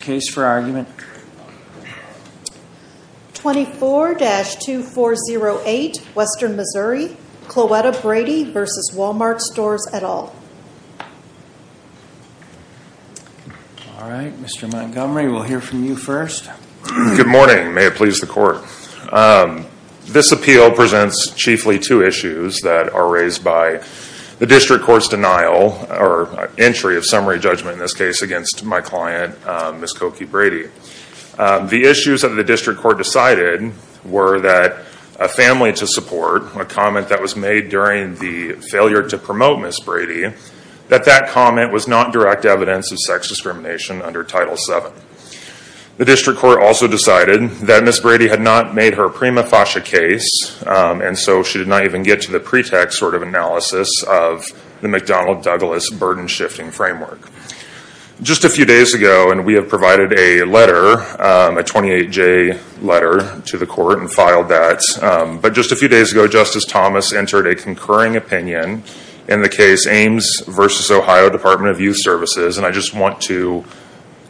24-2408, Western Missouri, Cloetta Brady v. Walmart Stores, et al. All right, Mr. Montgomery, we'll hear from you first. The issues that the district court decided were that a family to support, a comment that was made during the failure to promote Ms. Brady, that that comment was not direct evidence of sex discrimination under Title VII. The district court also decided that Ms. Brady had not made her prima facie case, and so she did not even get to the pretext sort of analysis of the McDonnell-Douglas burden-shifting framework. Just a few days ago, and we have provided a letter, a 28-J letter to the court and filed that, but just a few days ago, Justice Thomas entered a concurring opinion in the case Ames v. Ohio Department of Youth Services, and I just want to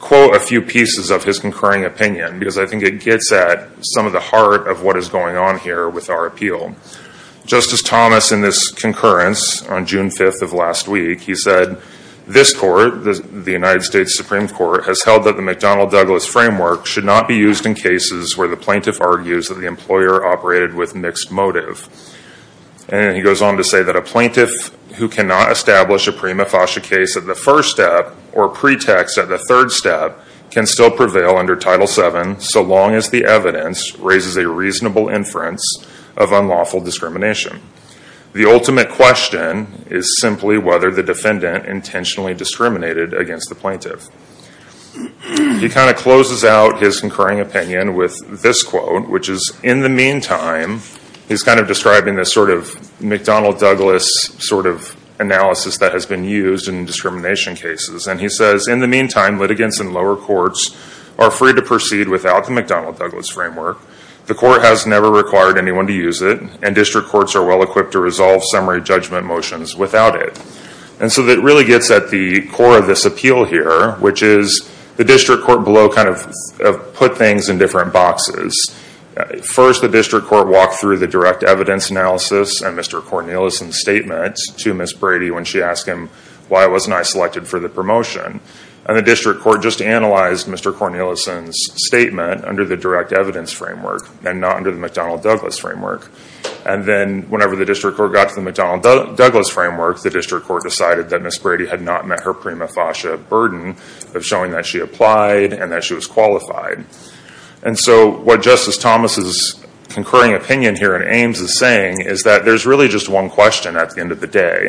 quote a few pieces of his concurring opinion, because I think it gets at some of the heart of what is going on here with our appeal. Justice Thomas, in this concurrence on June 5th of last week, he said, this court, the United States Supreme Court, has held that the McDonnell-Douglas framework should not be used in cases where the plaintiff argues that the employer operated with mixed motive. And he goes on to say that a plaintiff who cannot establish a prima facie case at the first step, or pretext at the third step, can still prevail under Title VII, so long as the evidence raises a reasonable inference of unlawful discrimination. The ultimate question is simply whether the defendant intentionally discriminated against the plaintiff. He kind of closes out his concurring opinion with this quote, which is, in the meantime, he's kind of describing this sort of McDonnell-Douglas sort of analysis that has been used in discrimination cases, and he says, in the meantime, litigants in lower courts are free to proceed without the McDonnell-Douglas framework. The court has never required anyone to use it, and district courts are well-equipped to resolve summary judgment motions without it. And so that really gets at the core of this appeal here, which is the district court below kind of put things in different boxes. First, the district court walked through the direct evidence analysis and Mr. Cornelison's statement to Ms. Brady when she asked him why wasn't I selected for the promotion. And the district court just analyzed Mr. Cornelison's statement under the direct evidence framework and not under the McDonnell-Douglas framework. And then whenever the district court got to the McDonnell-Douglas framework, the district court decided that Ms. Brady had not met her prima facie burden of showing that she applied and that she was qualified. And so what Justice Thomas's concurring opinion here in Ames is saying is that there's really just one question at the end of the day,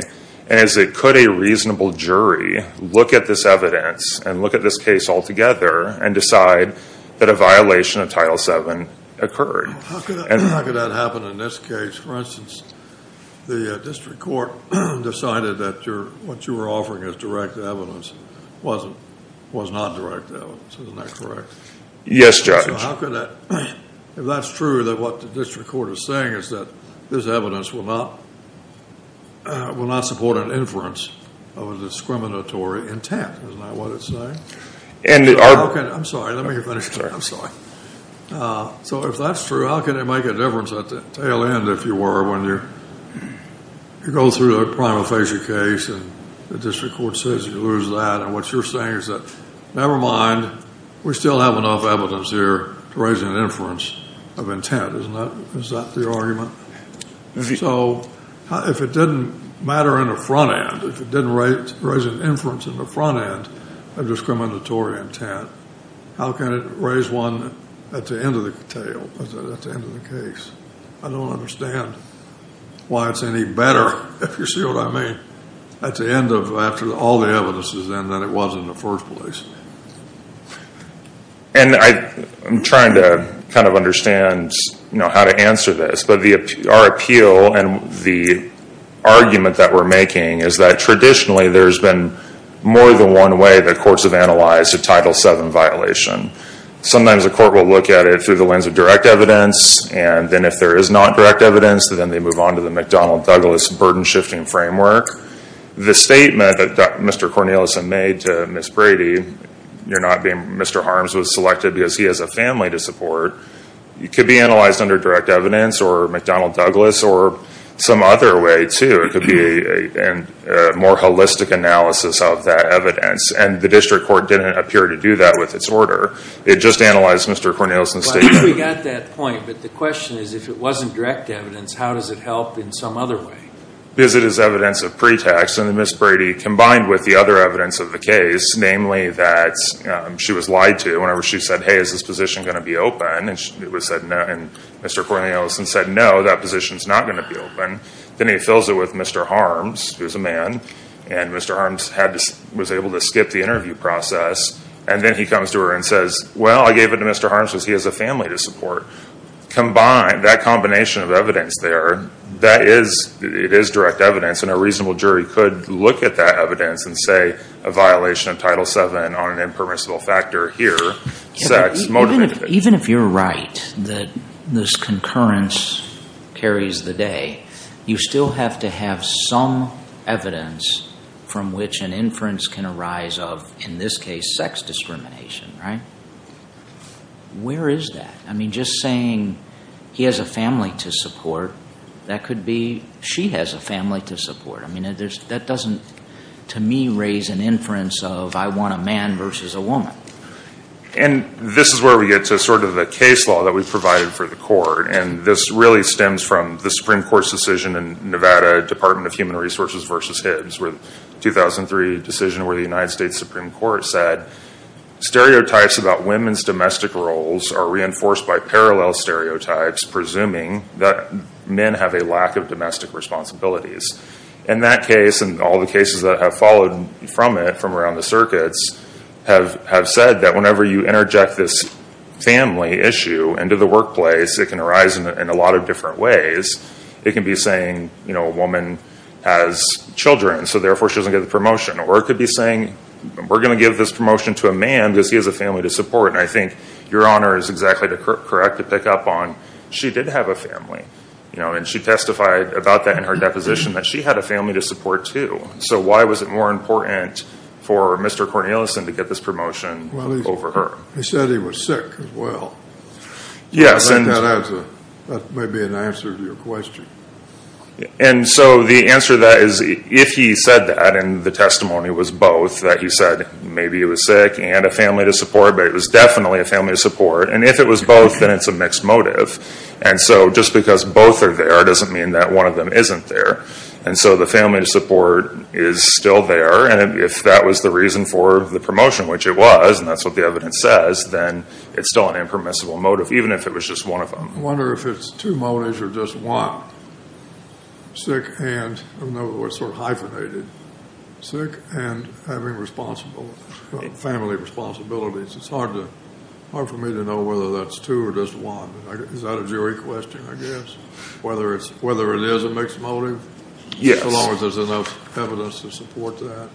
and it's could a reasonable jury look at this evidence and look at this case altogether and decide that a violation of Title VII occurred. How could that happen in this case? For instance, the district court decided that what you were offering as direct evidence was not direct evidence, isn't that correct? Yes, Judge. If that's true, then what the district court is saying is that this evidence will not support an inference of a discriminatory intent, isn't that what it's saying? I'm sorry, let me finish. I'm sorry. So if that's true, how can it make a difference at the tail end, if you were, when you go through a prima facie case and the district court says you lose that and what you're saying is that, never mind, we still have enough evidence here to raise an inference of intent, isn't that the argument? So if it didn't matter in the front end, if it didn't raise an inference in the front end of discriminatory intent, how can it raise one at the end of the tail, at the end of the case? I don't understand why it's any better, if you see what I mean, at the end of, after all the evidence is in, than it was in the first place. And I'm trying to kind of understand, you know, how to answer this, but our appeal and the argument that we're making is that traditionally there's been more than one way that courts have analyzed a Title VII violation. Sometimes a court will look at it through the lens of direct evidence, and then if there is not direct evidence, then they move on to the The statement that Mr. Cornelison made to Ms. Brady, you're not being, Mr. Harms was selected because he has a family to support, it could be analyzed under direct evidence or McDonnell Douglas or some other way too. It could be a more holistic analysis of that evidence, and the district court didn't appear to do that with its order. It just analyzed Mr. Cornelison's statement. We got that point, but the question is, if it wasn't direct evidence, how does it help in some other way? Because it is evidence of pretext, and then Ms. Brady, combined with the other evidence of the case, namely that she was lied to whenever she said, hey, is this position going to be open? And Mr. Cornelison said, no, that position's not going to be open. Then he fills it with Mr. Harms, who's a man, and Mr. Harms was able to skip the interview process, and then he comes to her and says, well, I gave it to Mr. Harms because he has a family to support. Combined, that combination of evidence there, it is direct evidence, and a reasonable jury could look at that evidence and say, a violation of Title VII on an impermissible factor here, sex motivated it. Even if you're right that this concurrence carries the day, you still have to have some evidence from which an inference can arise of, in this case, sex discrimination. Where is that? I mean, just saying he has a family to support, that could be she has a family to support. I mean, that doesn't, to me, raise an inference of I want a man versus a woman. And this is where we get to sort of the case law that we've provided for the court, and this really stems from the Supreme Court's decision in Nevada, Department of Human Resources v. Hibbs, where the 2003 decision where the United States Supreme Court said, stereotypes about women's domestic roles are reinforced by parallel stereotypes, presuming that men have a lack of domestic responsibilities. In that case, and all the cases that have followed from it, from around the circuits, have said that whenever you interject this family issue into the workplace, it can arise in a lot of different ways. It can be saying a woman has children, so therefore she doesn't get the promotion. Or it could be saying we're going to give this promotion to a man because he has a family to support. And I think your Honor is exactly correct to pick up on she did have a family, and she testified about that in her deposition, that she had a family to support too. So why was it more important for Mr. Cornelison to get this promotion over her? He said he was sick as well. Yes. That may be an answer to your question. And so the answer to that is if he said that, and the testimony was both, that he said maybe he was sick and a family to support, but it was definitely a family to support. And if it was both, then it's a mixed motive. And so just because both are there doesn't mean that one of them isn't there. And so the family to support is still there. And if that was the reason for the promotion, which it was, and that's what the evidence says, then it's still an impermissible motive, even if it was just one of them. I wonder if it's two motives or just one. Sick and, in other words, sort of hyphenated. Sick and having family responsibilities. It's hard for me to know whether that's two or just one. Is that a jury question, I guess? Whether it is a mixed motive? Yes. So long as there's enough evidence to support that.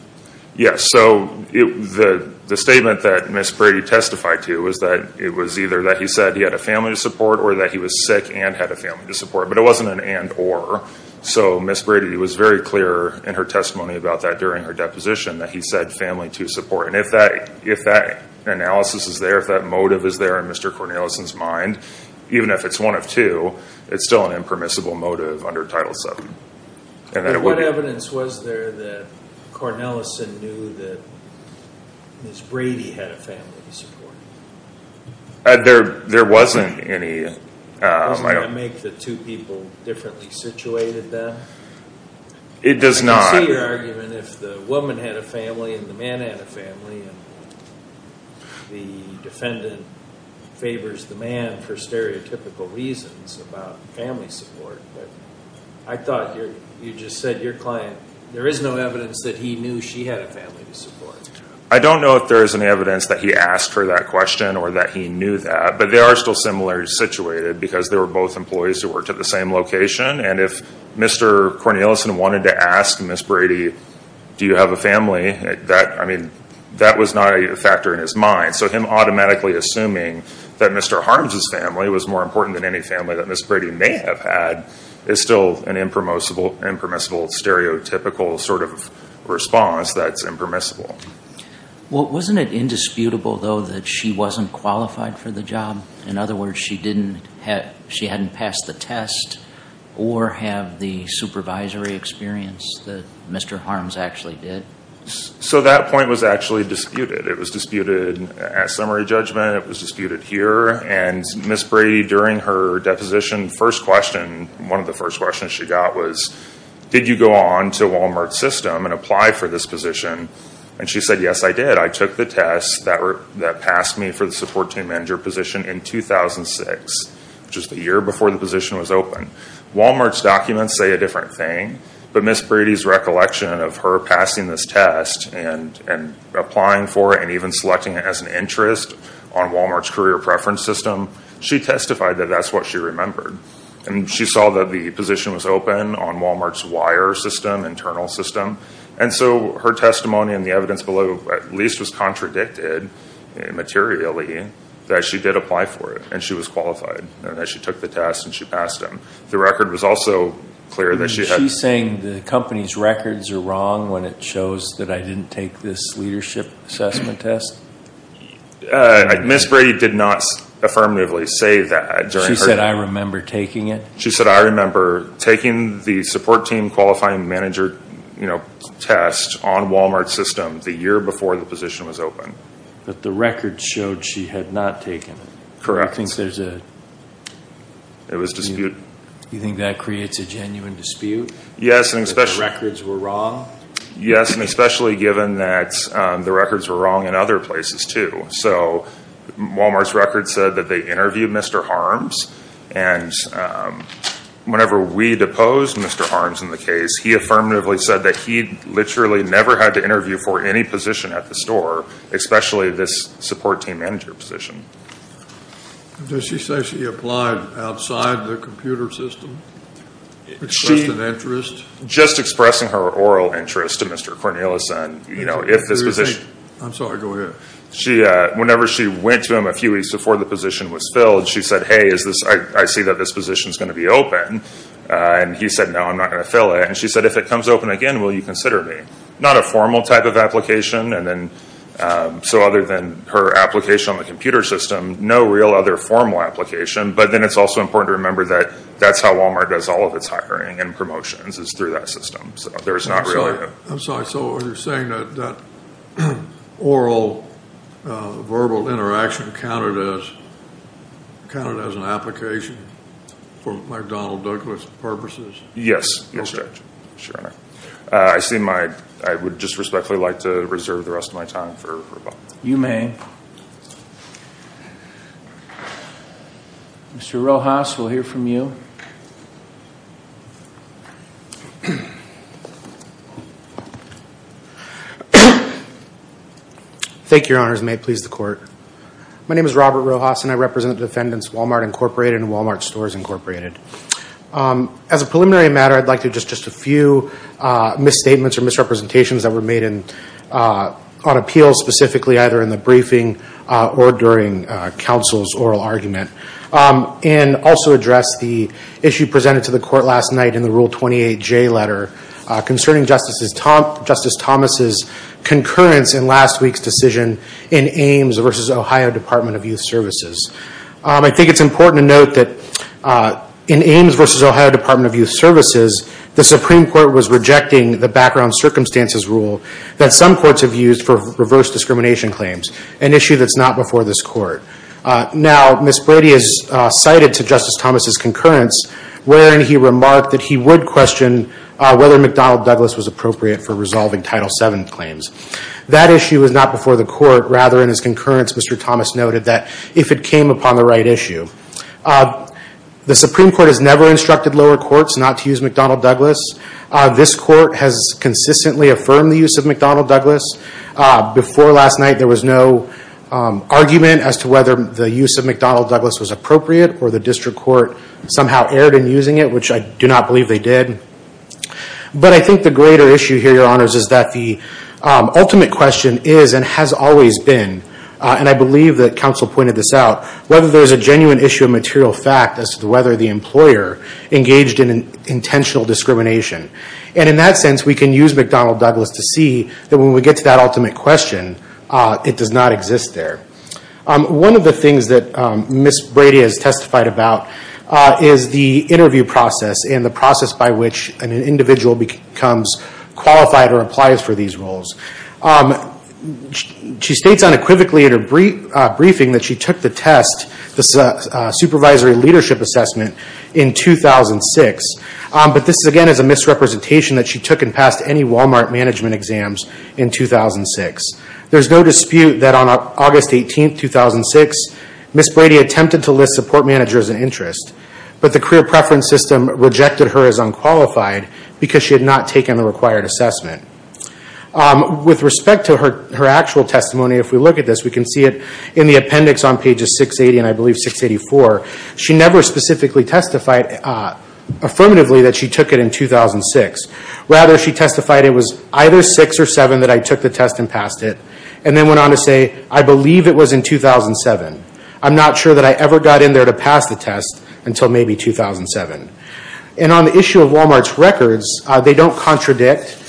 Yes. So the statement that Ms. Brady testified to was that it was either that he said he had a family to support or that he was sick and had a family to support. But it wasn't an and or. So Ms. Brady was very clear in her testimony about that during her deposition that he said family to support. And if that analysis is there, if that motive is there in Mr. Cornelison's mind, even if it's one of two, it's still an impermissible motive under Title VII. What evidence was there that Cornelison knew that Ms. Brady had a family to support? There wasn't any. Doesn't that make the two people differently situated then? It does not. I can see your argument if the woman had a family and the man had a family and the defendant favors the man for stereotypical reasons about family support. But I thought you just said your client, there is no evidence that he knew she had a family to support. I don't know if there is any evidence that he asked for that question or that he knew that. But they are still similarly situated because they were both employees who worked at the same location. And if Mr. Cornelison wanted to ask Ms. Brady, do you have a family, that was not a factor in his mind. So him automatically assuming that Mr. Harms' family was more important than any family that Ms. Brady may have had is still an impermissible stereotypical sort of response that's impermissible. Wasn't it indisputable though that she wasn't qualified for the job? In other words, she hadn't passed the test or had the supervisory experience that Mr. Harms actually did? So that point was actually disputed. It was disputed at summary judgment. It was disputed here. And Ms. Brady, during her deposition, first question, one of the first questions she got was, did you go on to Walmart's system and apply for this position? And she said, yes, I did. I took the test that passed me for the support team manager position in 2006, which is the year before the position was opened. Walmart's documents say a different thing. But Ms. Brady's recollection of her passing this test and applying for it and even selecting it as an interest on Walmart's career preference system, she testified that that's what she remembered. And she saw that the position was open on Walmart's wire system, internal system. And so her testimony and the evidence below at least was contradicted materially that she did apply for it and she was qualified and that she took the test and she passed it. The record was also clear that she had been. The company's records are wrong when it shows that I didn't take this leadership assessment test? Ms. Brady did not affirmatively say that. She said, I remember taking it? She said, I remember taking the support team qualifying manager test on Walmart's system the year before the position was opened. But the record showed she had not taken it. Correct. It was disputed. You think that creates a genuine dispute? Yes. That the records were wrong? Yes, and especially given that the records were wrong in other places too. So Walmart's records said that they interviewed Mr. Harms and whenever we deposed Mr. Harms in the case, he affirmatively said that he literally never had to interview for any position at the store, especially this support team manager position. Does she say she applied outside the computer system? Expressed an interest? Just expressing her oral interest to Mr. Cornelius. I'm sorry, go ahead. Whenever she went to him a few weeks before the position was filled, she said, hey, I see that this position is going to be open. And he said, no, I'm not going to fill it. And she said, if it comes open again, will you consider me? Not a formal type of application. So other than her application on the computer system, no real other formal application. But then it's also important to remember that that's how Walmart does all of its hiring and promotions is through that system. So there's not really a – So you're saying that oral-verbal interaction counted as an application for McDonnell-Douglas purposes? Yes, Judge. I would just respectfully like to reserve the rest of my time for rebuttal. You may. Mr. Rojas, we'll hear from you. Thank you, Your Honors. May it please the Court. My name is Robert Rojas, and I represent the defendants Walmart Incorporated and Walmart Stores Incorporated. As a preliminary matter, I'd like to address just a few misstatements or misrepresentations that were made on appeal, specifically either in the briefing or during counsel's oral argument. And also address the issue presented to the Court last night in the Rule 28J letter concerning Justice Thomas's concurrence in last week's decision in Ames v. Ohio Department of Youth Services. I think it's important to note that in Ames v. Ohio Department of Youth Services, the Supreme Court was rejecting the background circumstances rule that some courts have used for reverse discrimination claims, an issue that's not before this Court. Now, Ms. Brady has cited to Justice Thomas's concurrence wherein he remarked that he would question whether McDonnell-Douglas was appropriate for resolving Title VII claims. That issue was not before the Court. Rather, in his concurrence, Mr. Thomas noted that if it came upon the right issue. The Supreme Court has never instructed lower courts not to use McDonnell-Douglas. This Court has consistently affirmed the use of McDonnell-Douglas. Before last night, there was no argument as to whether the use of McDonnell-Douglas was appropriate or the District Court somehow erred in using it, which I do not believe they did. But I think the greater issue here, Your Honors, is that the ultimate question is and has always been, and I believe that counsel pointed this out, whether there is a genuine issue of material fact as to whether the employer engaged in intentional discrimination. And in that sense, we can use McDonnell-Douglas to see that when we get to that ultimate question, it does not exist there. One of the things that Ms. Brady has testified about is the interview process and the process by which an individual becomes qualified or applies for these roles. She states unequivocally in her briefing that she took the test, the supervisory leadership assessment, in 2006. But this, again, is a misrepresentation that she took and passed any Walmart management exams in 2006. There is no dispute that on August 18, 2006, Ms. Brady attempted to list support manager as an interest, but the career preference system rejected her as unqualified because she had not taken the required assessment. With respect to her actual testimony, if we look at this, we can see it in the appendix on pages 680 and, I believe, 684. She never specifically testified affirmatively that she took it in 2006. Rather, she testified it was either 6 or 7 that I took the test and passed it, and then went on to say, I believe it was in 2007. I'm not sure that I ever got in there to pass the test until maybe 2007. And on the issue of Walmart's records, they don't contradict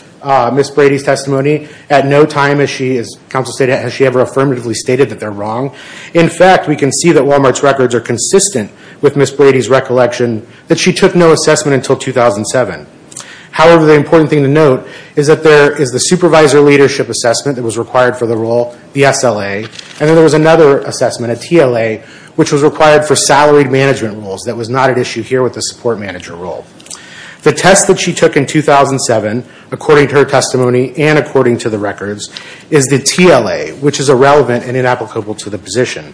Ms. Brady's testimony. At no time has she ever affirmatively stated that they're wrong. In fact, we can see that Walmart's records are consistent with Ms. Brady's recollection that she took no assessment until 2007. However, the important thing to note is that there is the supervisor leadership assessment that was required for the role, the SLA, and then there was another assessment, a TLA, which was required for salaried management roles that was not at issue here with the support manager role. The test that she took in 2007, according to her testimony and according to the records, is the TLA, which is irrelevant and inapplicable to the position.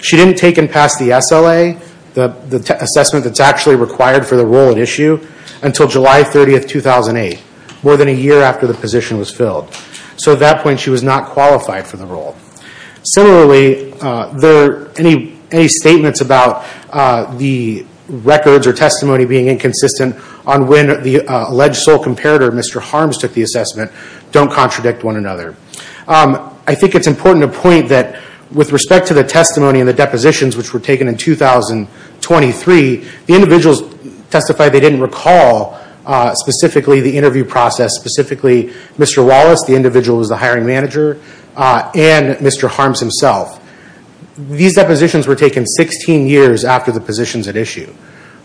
She didn't take and pass the SLA, the assessment that's actually required for the role at issue, until July 30, 2008, more than a year after the position was filled. So at that point, she was not qualified for the role. Similarly, any statements about the records or testimony being inconsistent on when the alleged sole comparator, Mr. Harms, took the assessment don't contradict one another. I think it's important to point that with respect to the testimony and the depositions which were taken in 2023, the individuals testified they didn't recall specifically the interview process, specifically Mr. Wallace, the individual who was the hiring manager, and Mr. Harms himself. These depositions were taken 16 years after the positions at issue.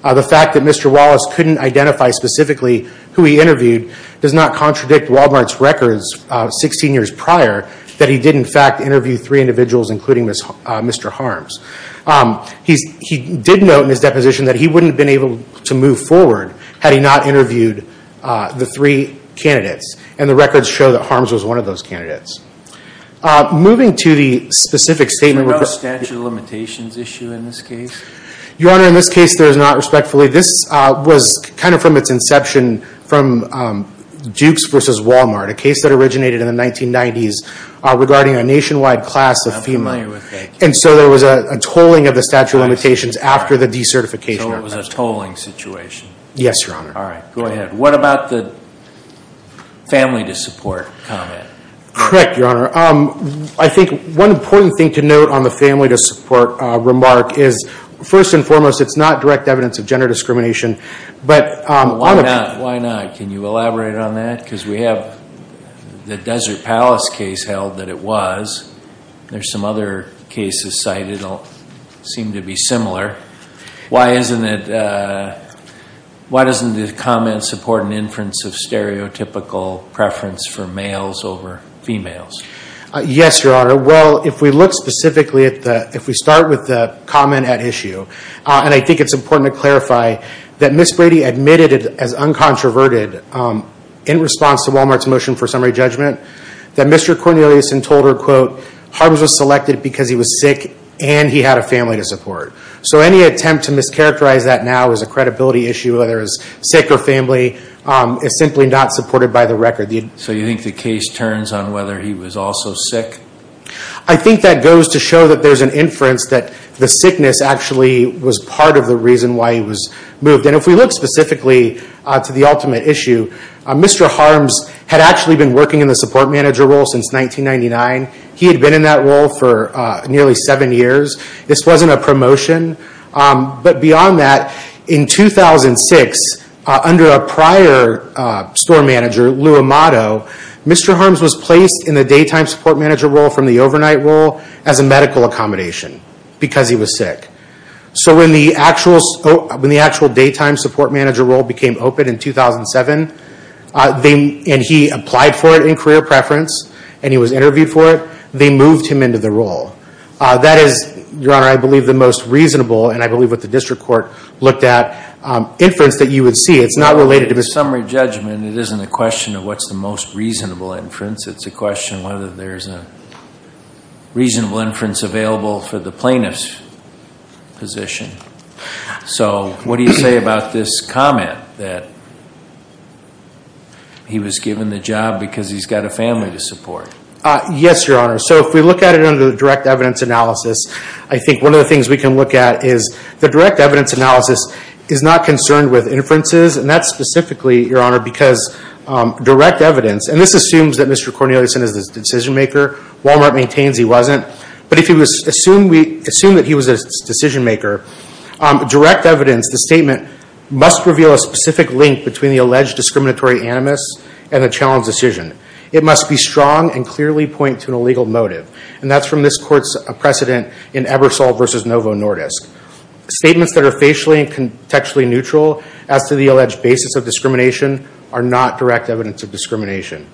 The fact that Mr. Wallace couldn't identify specifically who he interviewed does not contradict Wal-Mart's records 16 years prior that he did in fact interview three individuals, including Mr. Harms. He did note in his deposition that he wouldn't have been able to move forward had he not interviewed the three candidates. And the records show that Harms was one of those candidates. Moving to the specific statement about statute of limitations issue in this case. Your Honor, in this case there is not respectfully. This was kind of from its inception from Dukes versus Wal-Mart, a case that originated in the 1990s regarding a nationwide class of female. And so there was a tolling of the statute of limitations after the decertification. So it was a tolling situation? Yes, Your Honor. All right, go ahead. What about the family to support comment? Correct, Your Honor. I think one important thing to note on the family to support remark is, first and foremost, it's not direct evidence of gender discrimination. Why not? Can you elaborate on that? Because we have the Desert Palace case held that it was. There's some other cases cited that seem to be similar. Why doesn't the comment support an inference of stereotypical preference for males over females? Yes, Your Honor. Well, if we look specifically at the, if we start with the comment at issue, and I think it's important to clarify that Ms. Brady admitted as uncontroverted in response to Wal-Mart's motion for summary judgment, that Mr. Cornelius had told her, quote, Harms was selected because he was sick and he had a family to support. So any attempt to mischaracterize that now as a credibility issue, whether it's sick or family, is simply not supported by the record. So you think the case turns on whether he was also sick? I think that goes to show that there's an inference that the sickness actually was part of the reason why he was moved. And if we look specifically to the ultimate issue, Mr. Harms had actually been working in the support manager role since 1999. He had been in that role for nearly seven years. This wasn't a promotion. But beyond that, in 2006, under a prior store manager, Lou Amato, Mr. Harms was placed in the daytime support manager role from the overnight role as a medical accommodation because he was sick. So when the actual daytime support manager role became open in 2007, and he applied for it in career preference and he was interviewed for it, they moved him into the role. That is, Your Honor, I believe the most reasonable, and I believe what the district court looked at, inference that you would see. It's not related to the summary judgment. It isn't a question of what's the most reasonable inference. It's a question of whether there's a reasonable inference available for the plaintiff's position. So what do you say about this comment that he was given the job because he's got a family to support? Yes, Your Honor. So if we look at it under the direct evidence analysis, I think one of the things we can look at is the direct evidence analysis is not concerned with inferences. And that's specifically, Your Honor, because direct evidence, and this assumes that Mr. Corneliusson is the decision maker. Walmart maintains he wasn't. But if we assume that he was a decision maker, direct evidence, the statement must reveal a specific link between the alleged discriminatory animus and the challenge decision. It must be strong and clearly point to an illegal motive. And that's from this court's precedent in Ebersole v. Novo Nordisk. Statements that are facially and contextually neutral as to the alleged basis of discrimination are not direct evidence of discrimination.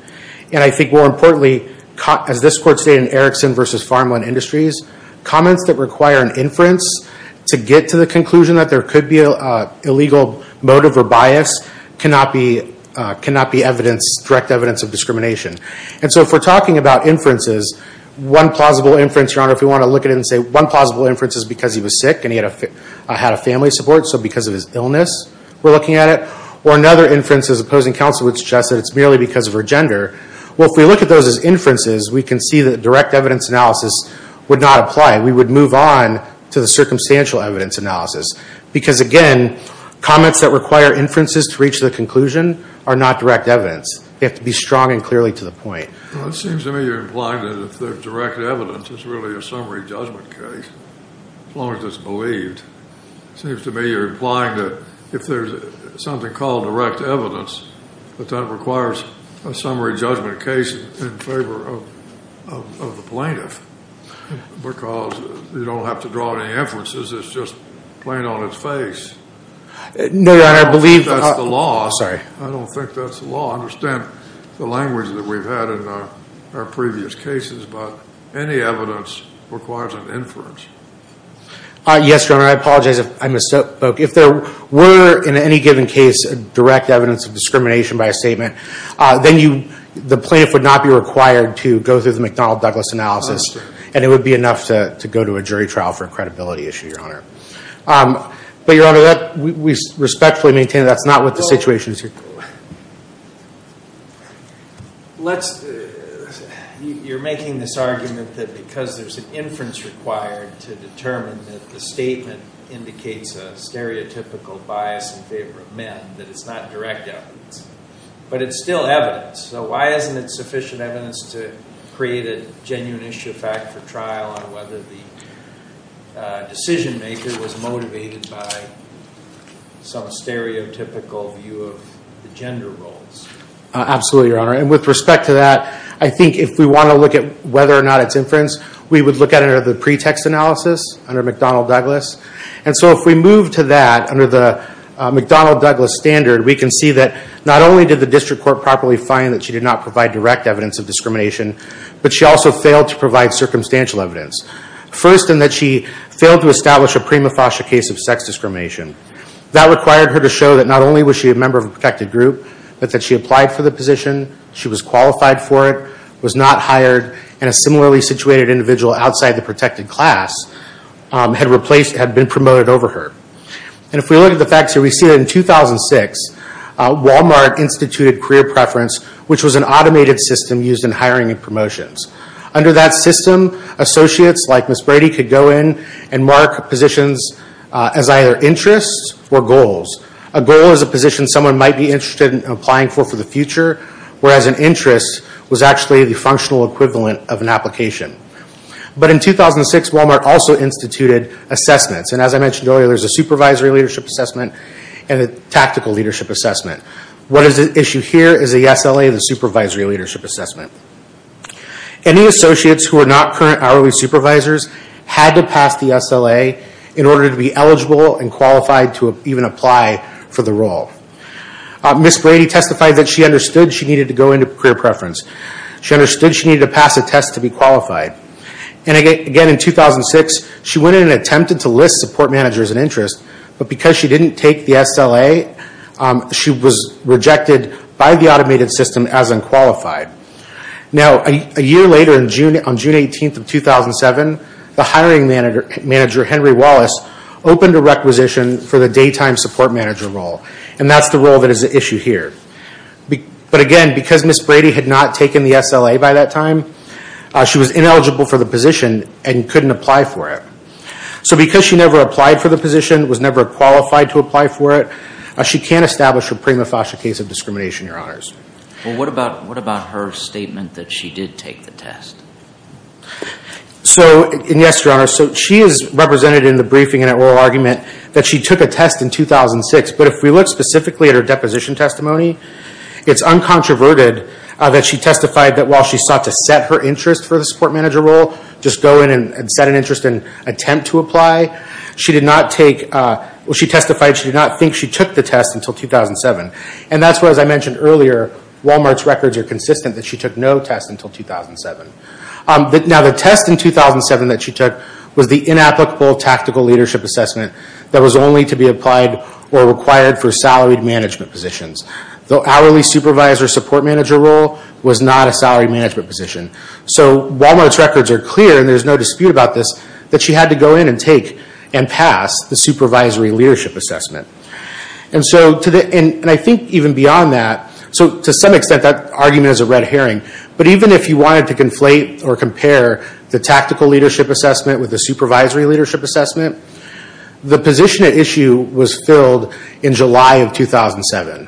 And I think more importantly, as this court stated in Erickson v. Farmland Industries, comments that require an inference to get to the conclusion that there could be an illegal motive or bias cannot be direct evidence of discrimination. And so if we're talking about inferences, one plausible inference, Your Honor, if we want to look at it and say one plausible inference is because he was sick and he had a family support, so because of his illness we're looking at it. Or another inference is opposing counsel would suggest that it's merely because of her gender. Well, if we look at those as inferences, we can see that direct evidence analysis would not apply. We would move on to the circumstantial evidence analysis. Because again, comments that require inferences to reach the conclusion are not direct evidence. They have to be strong and clearly to the point. Well, it seems to me you're implying that if there's direct evidence, it's really a summary judgment case, as long as it's believed. It seems to me you're implying that if there's something called direct evidence, that that requires a summary judgment case in favor of the plaintiff. Because you don't have to draw any inferences. It's just plain on its face. I don't think that's the law. I don't think that's the law. I understand the language that we've had in our previous cases. But any evidence requires an inference. Yes, Your Honor. I apologize if I misspoke. If there were, in any given case, direct evidence of discrimination by a statement, then the plaintiff would not be required to go through the McDonnell-Douglas analysis. And it would be enough to go to a jury trial for a credibility issue, Your Honor. But Your Honor, we respectfully maintain that's not what the situation is here. You're making this argument that because there's an inference required to determine that the statement indicates a stereotypical bias in favor of men, that it's not direct evidence. But it's still evidence. So why isn't it sufficient evidence to create a genuine issue of fact for trial on whether the decision maker was motivated by some stereotypical view of the gender roles? Absolutely, Your Honor. And with respect to that, I think if we want to look at whether or not it's inference, we would look at it under the pretext analysis, under McDonnell-Douglas. And so if we move to that, under the McDonnell-Douglas standard, we can see that not only did the district court properly find that she did not provide direct evidence of discrimination, but she also failed to provide circumstantial evidence. First, in that she failed to establish a prima facie case of sex discrimination. That required her to show that not only was she a member of a protected group, but that she applied for the position, she was qualified for it, was not hired, and a similarly situated individual outside the protected class had been promoted over her. And if we look at the facts here, we see that in 2006, Walmart instituted career preference, which was an automated system used in hiring and promotions. Under that system, associates like Ms. Brady could go in and mark positions as either interests or goals. A goal is a position someone might be interested in applying for for the future, whereas an interest was actually the functional equivalent of an application. But in 2006, Walmart also instituted assessments. And as I mentioned earlier, there's a supervisory leadership assessment and a tactical leadership assessment. What is at issue here is the SLA, the supervisory leadership assessment. Any associates who are not current hourly supervisors had to pass the SLA in order to be eligible and qualified to even apply for the role. Ms. Brady testified that she understood she needed to go into career preference. She understood she needed to pass a test to be qualified. And again, in 2006, she went in and attempted to list support managers and interests, but because she didn't take the SLA, she was rejected by the automated system as unqualified. Now, a year later, on June 18th of 2007, the hiring manager, Henry Wallace, opened a requisition for the daytime support manager role, and that's the role that is at issue here. But again, because Ms. Brady had not taken the SLA by that time, she was ineligible for the position and couldn't apply for it. So because she never applied for the position, was never qualified to apply for it, she can't establish a prima facie case of discrimination, Your Honors. Well, what about her statement that she did take the test? Yes, Your Honors. She is represented in the briefing in an oral argument that she took a test in 2006, but if we look specifically at her deposition testimony, it's uncontroverted that she testified that while she sought to set her interest for the support manager role, just go in and set an interest and attempt to apply, she testified she did not think she took the test until 2007. And that's why, as I mentioned earlier, Walmart's records are consistent that she took no test until 2007. Now, the test in 2007 that she took was the inapplicable tactical leadership assessment that was only to be applied or required for salaried management positions. The hourly supervisor support manager role was not a salaried management position. So Walmart's records are clear, and there's no dispute about this, that she had to go in and take and pass the supervisory leadership assessment. And I think even beyond that, so to some extent that argument is a red herring, but even if you wanted to conflate or compare the tactical leadership assessment with the supervisory leadership assessment, the position at issue was filled in July of 2007.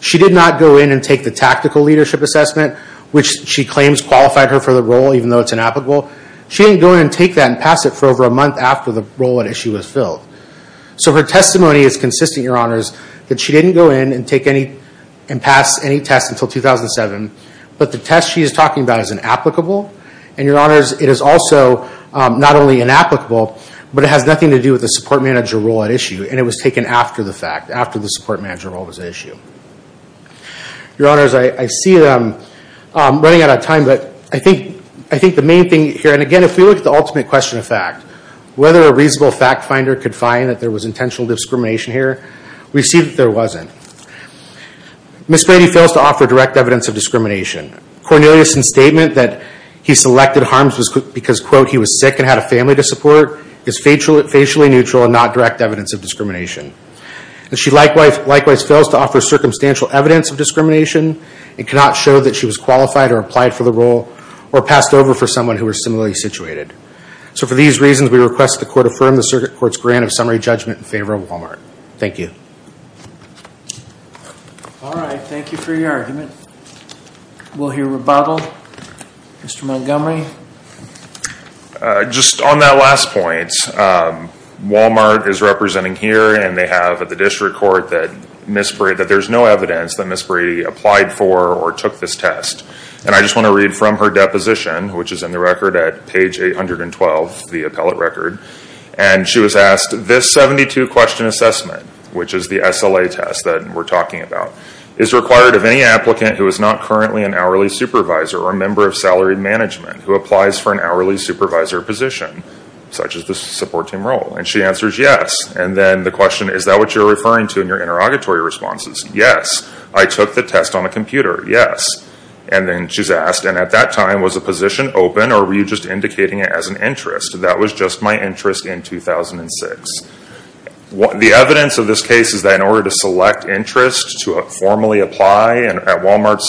She did not go in and take the tactical leadership assessment, which she claims qualified her for the role even though it's inapplicable. She didn't go in and take that and pass it for over a month after the role at issue was filled. So her testimony is consistent, Your Honors, that she didn't go in and pass any tests until 2007, but the test she is talking about is inapplicable. And Your Honors, it is also not only inapplicable, but it has nothing to do with the support manager role at issue, and it was taken after the fact, after the support manager role was at issue. Your Honors, I see I'm running out of time, but I think the main thing here, and again, if we look at the ultimate question of fact, whether a reasonable fact finder could find that there was intentional discrimination here, we see that there wasn't. Ms. Grady fails to offer direct evidence of discrimination. Cornelius's statement that he selected HARMS because, quote, he was sick and had a family to support is facially neutral and not direct evidence of discrimination. She likewise fails to offer circumstantial evidence of discrimination and cannot show that she was qualified or applied for the role or passed over for someone who was similarly situated. So for these reasons, we request the court affirm the circuit court's grant of summary judgment in favor of Walmart. Thank you. All right. Thank you for your argument. We'll hear rebuttal. Mr. Montgomery. Just on that last point, Walmart is representing here, and they have at the district court that there's no evidence that Ms. Grady applied for or took this test. And I just want to read from her deposition, which is in the record at page 812, the appellate record. And she was asked, this 72-question assessment, which is the SLA test that we're talking about, is required of any applicant who is not currently an hourly supervisor or a member of salaried management who applies for an hourly supervisor position, such as the support team role. And she answers yes. And then the question, is that what you're referring to in your interrogatory responses? Yes. I took the test on a computer. Yes. And then she's asked, and at that time, was the position open or were you just indicating it as an interest? That was just my interest in 2006. The evidence of this case is that in order to select interest to formally apply at Walmart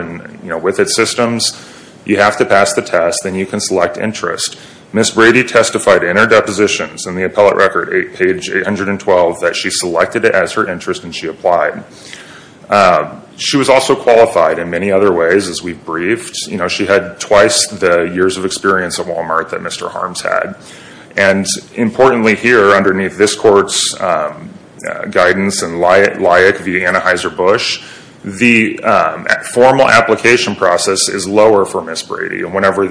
and with its systems, you have to pass the test, then you can select interest. Ms. Grady testified in her depositions in the appellate record, page 812, that she selected it as her interest and she applied. She was also qualified in many other ways, as we've briefed. She had twice the years of experience at Walmart that Mr. Harms had. And importantly here, underneath this court's guidance and LIAC via Anheuser-Busch, the formal application process is lower for Ms. Grady. Whenever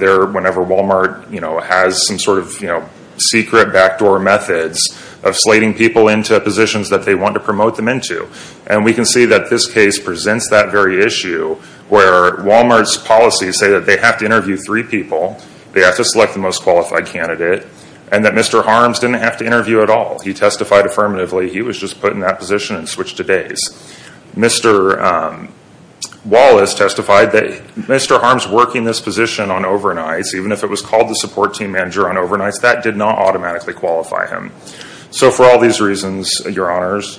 Walmart has some sort of secret backdoor methods of slating people into positions that they want to promote them into. And we can see that this case presents that very issue where Walmart's policies say that they have to interview three people, they have to select the most qualified candidate, and that Mr. Harms didn't have to interview at all. He testified affirmatively. He was just put in that position and switched to days. Mr. Wallace testified that Mr. Harms working this position on overnights, even if it was called the support team manager on overnights, that did not automatically qualify him. So for all these reasons, your honors,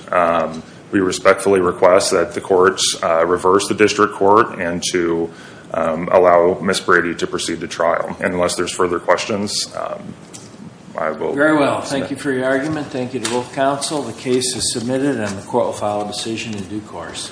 we respectfully request that the courts reverse the district court and to allow Ms. Grady to proceed to trial. And unless there's further questions, I will pass that. Very well. Thank you for your argument. Thank you to both counsel. The case is submitted and the court will file a decision in due course.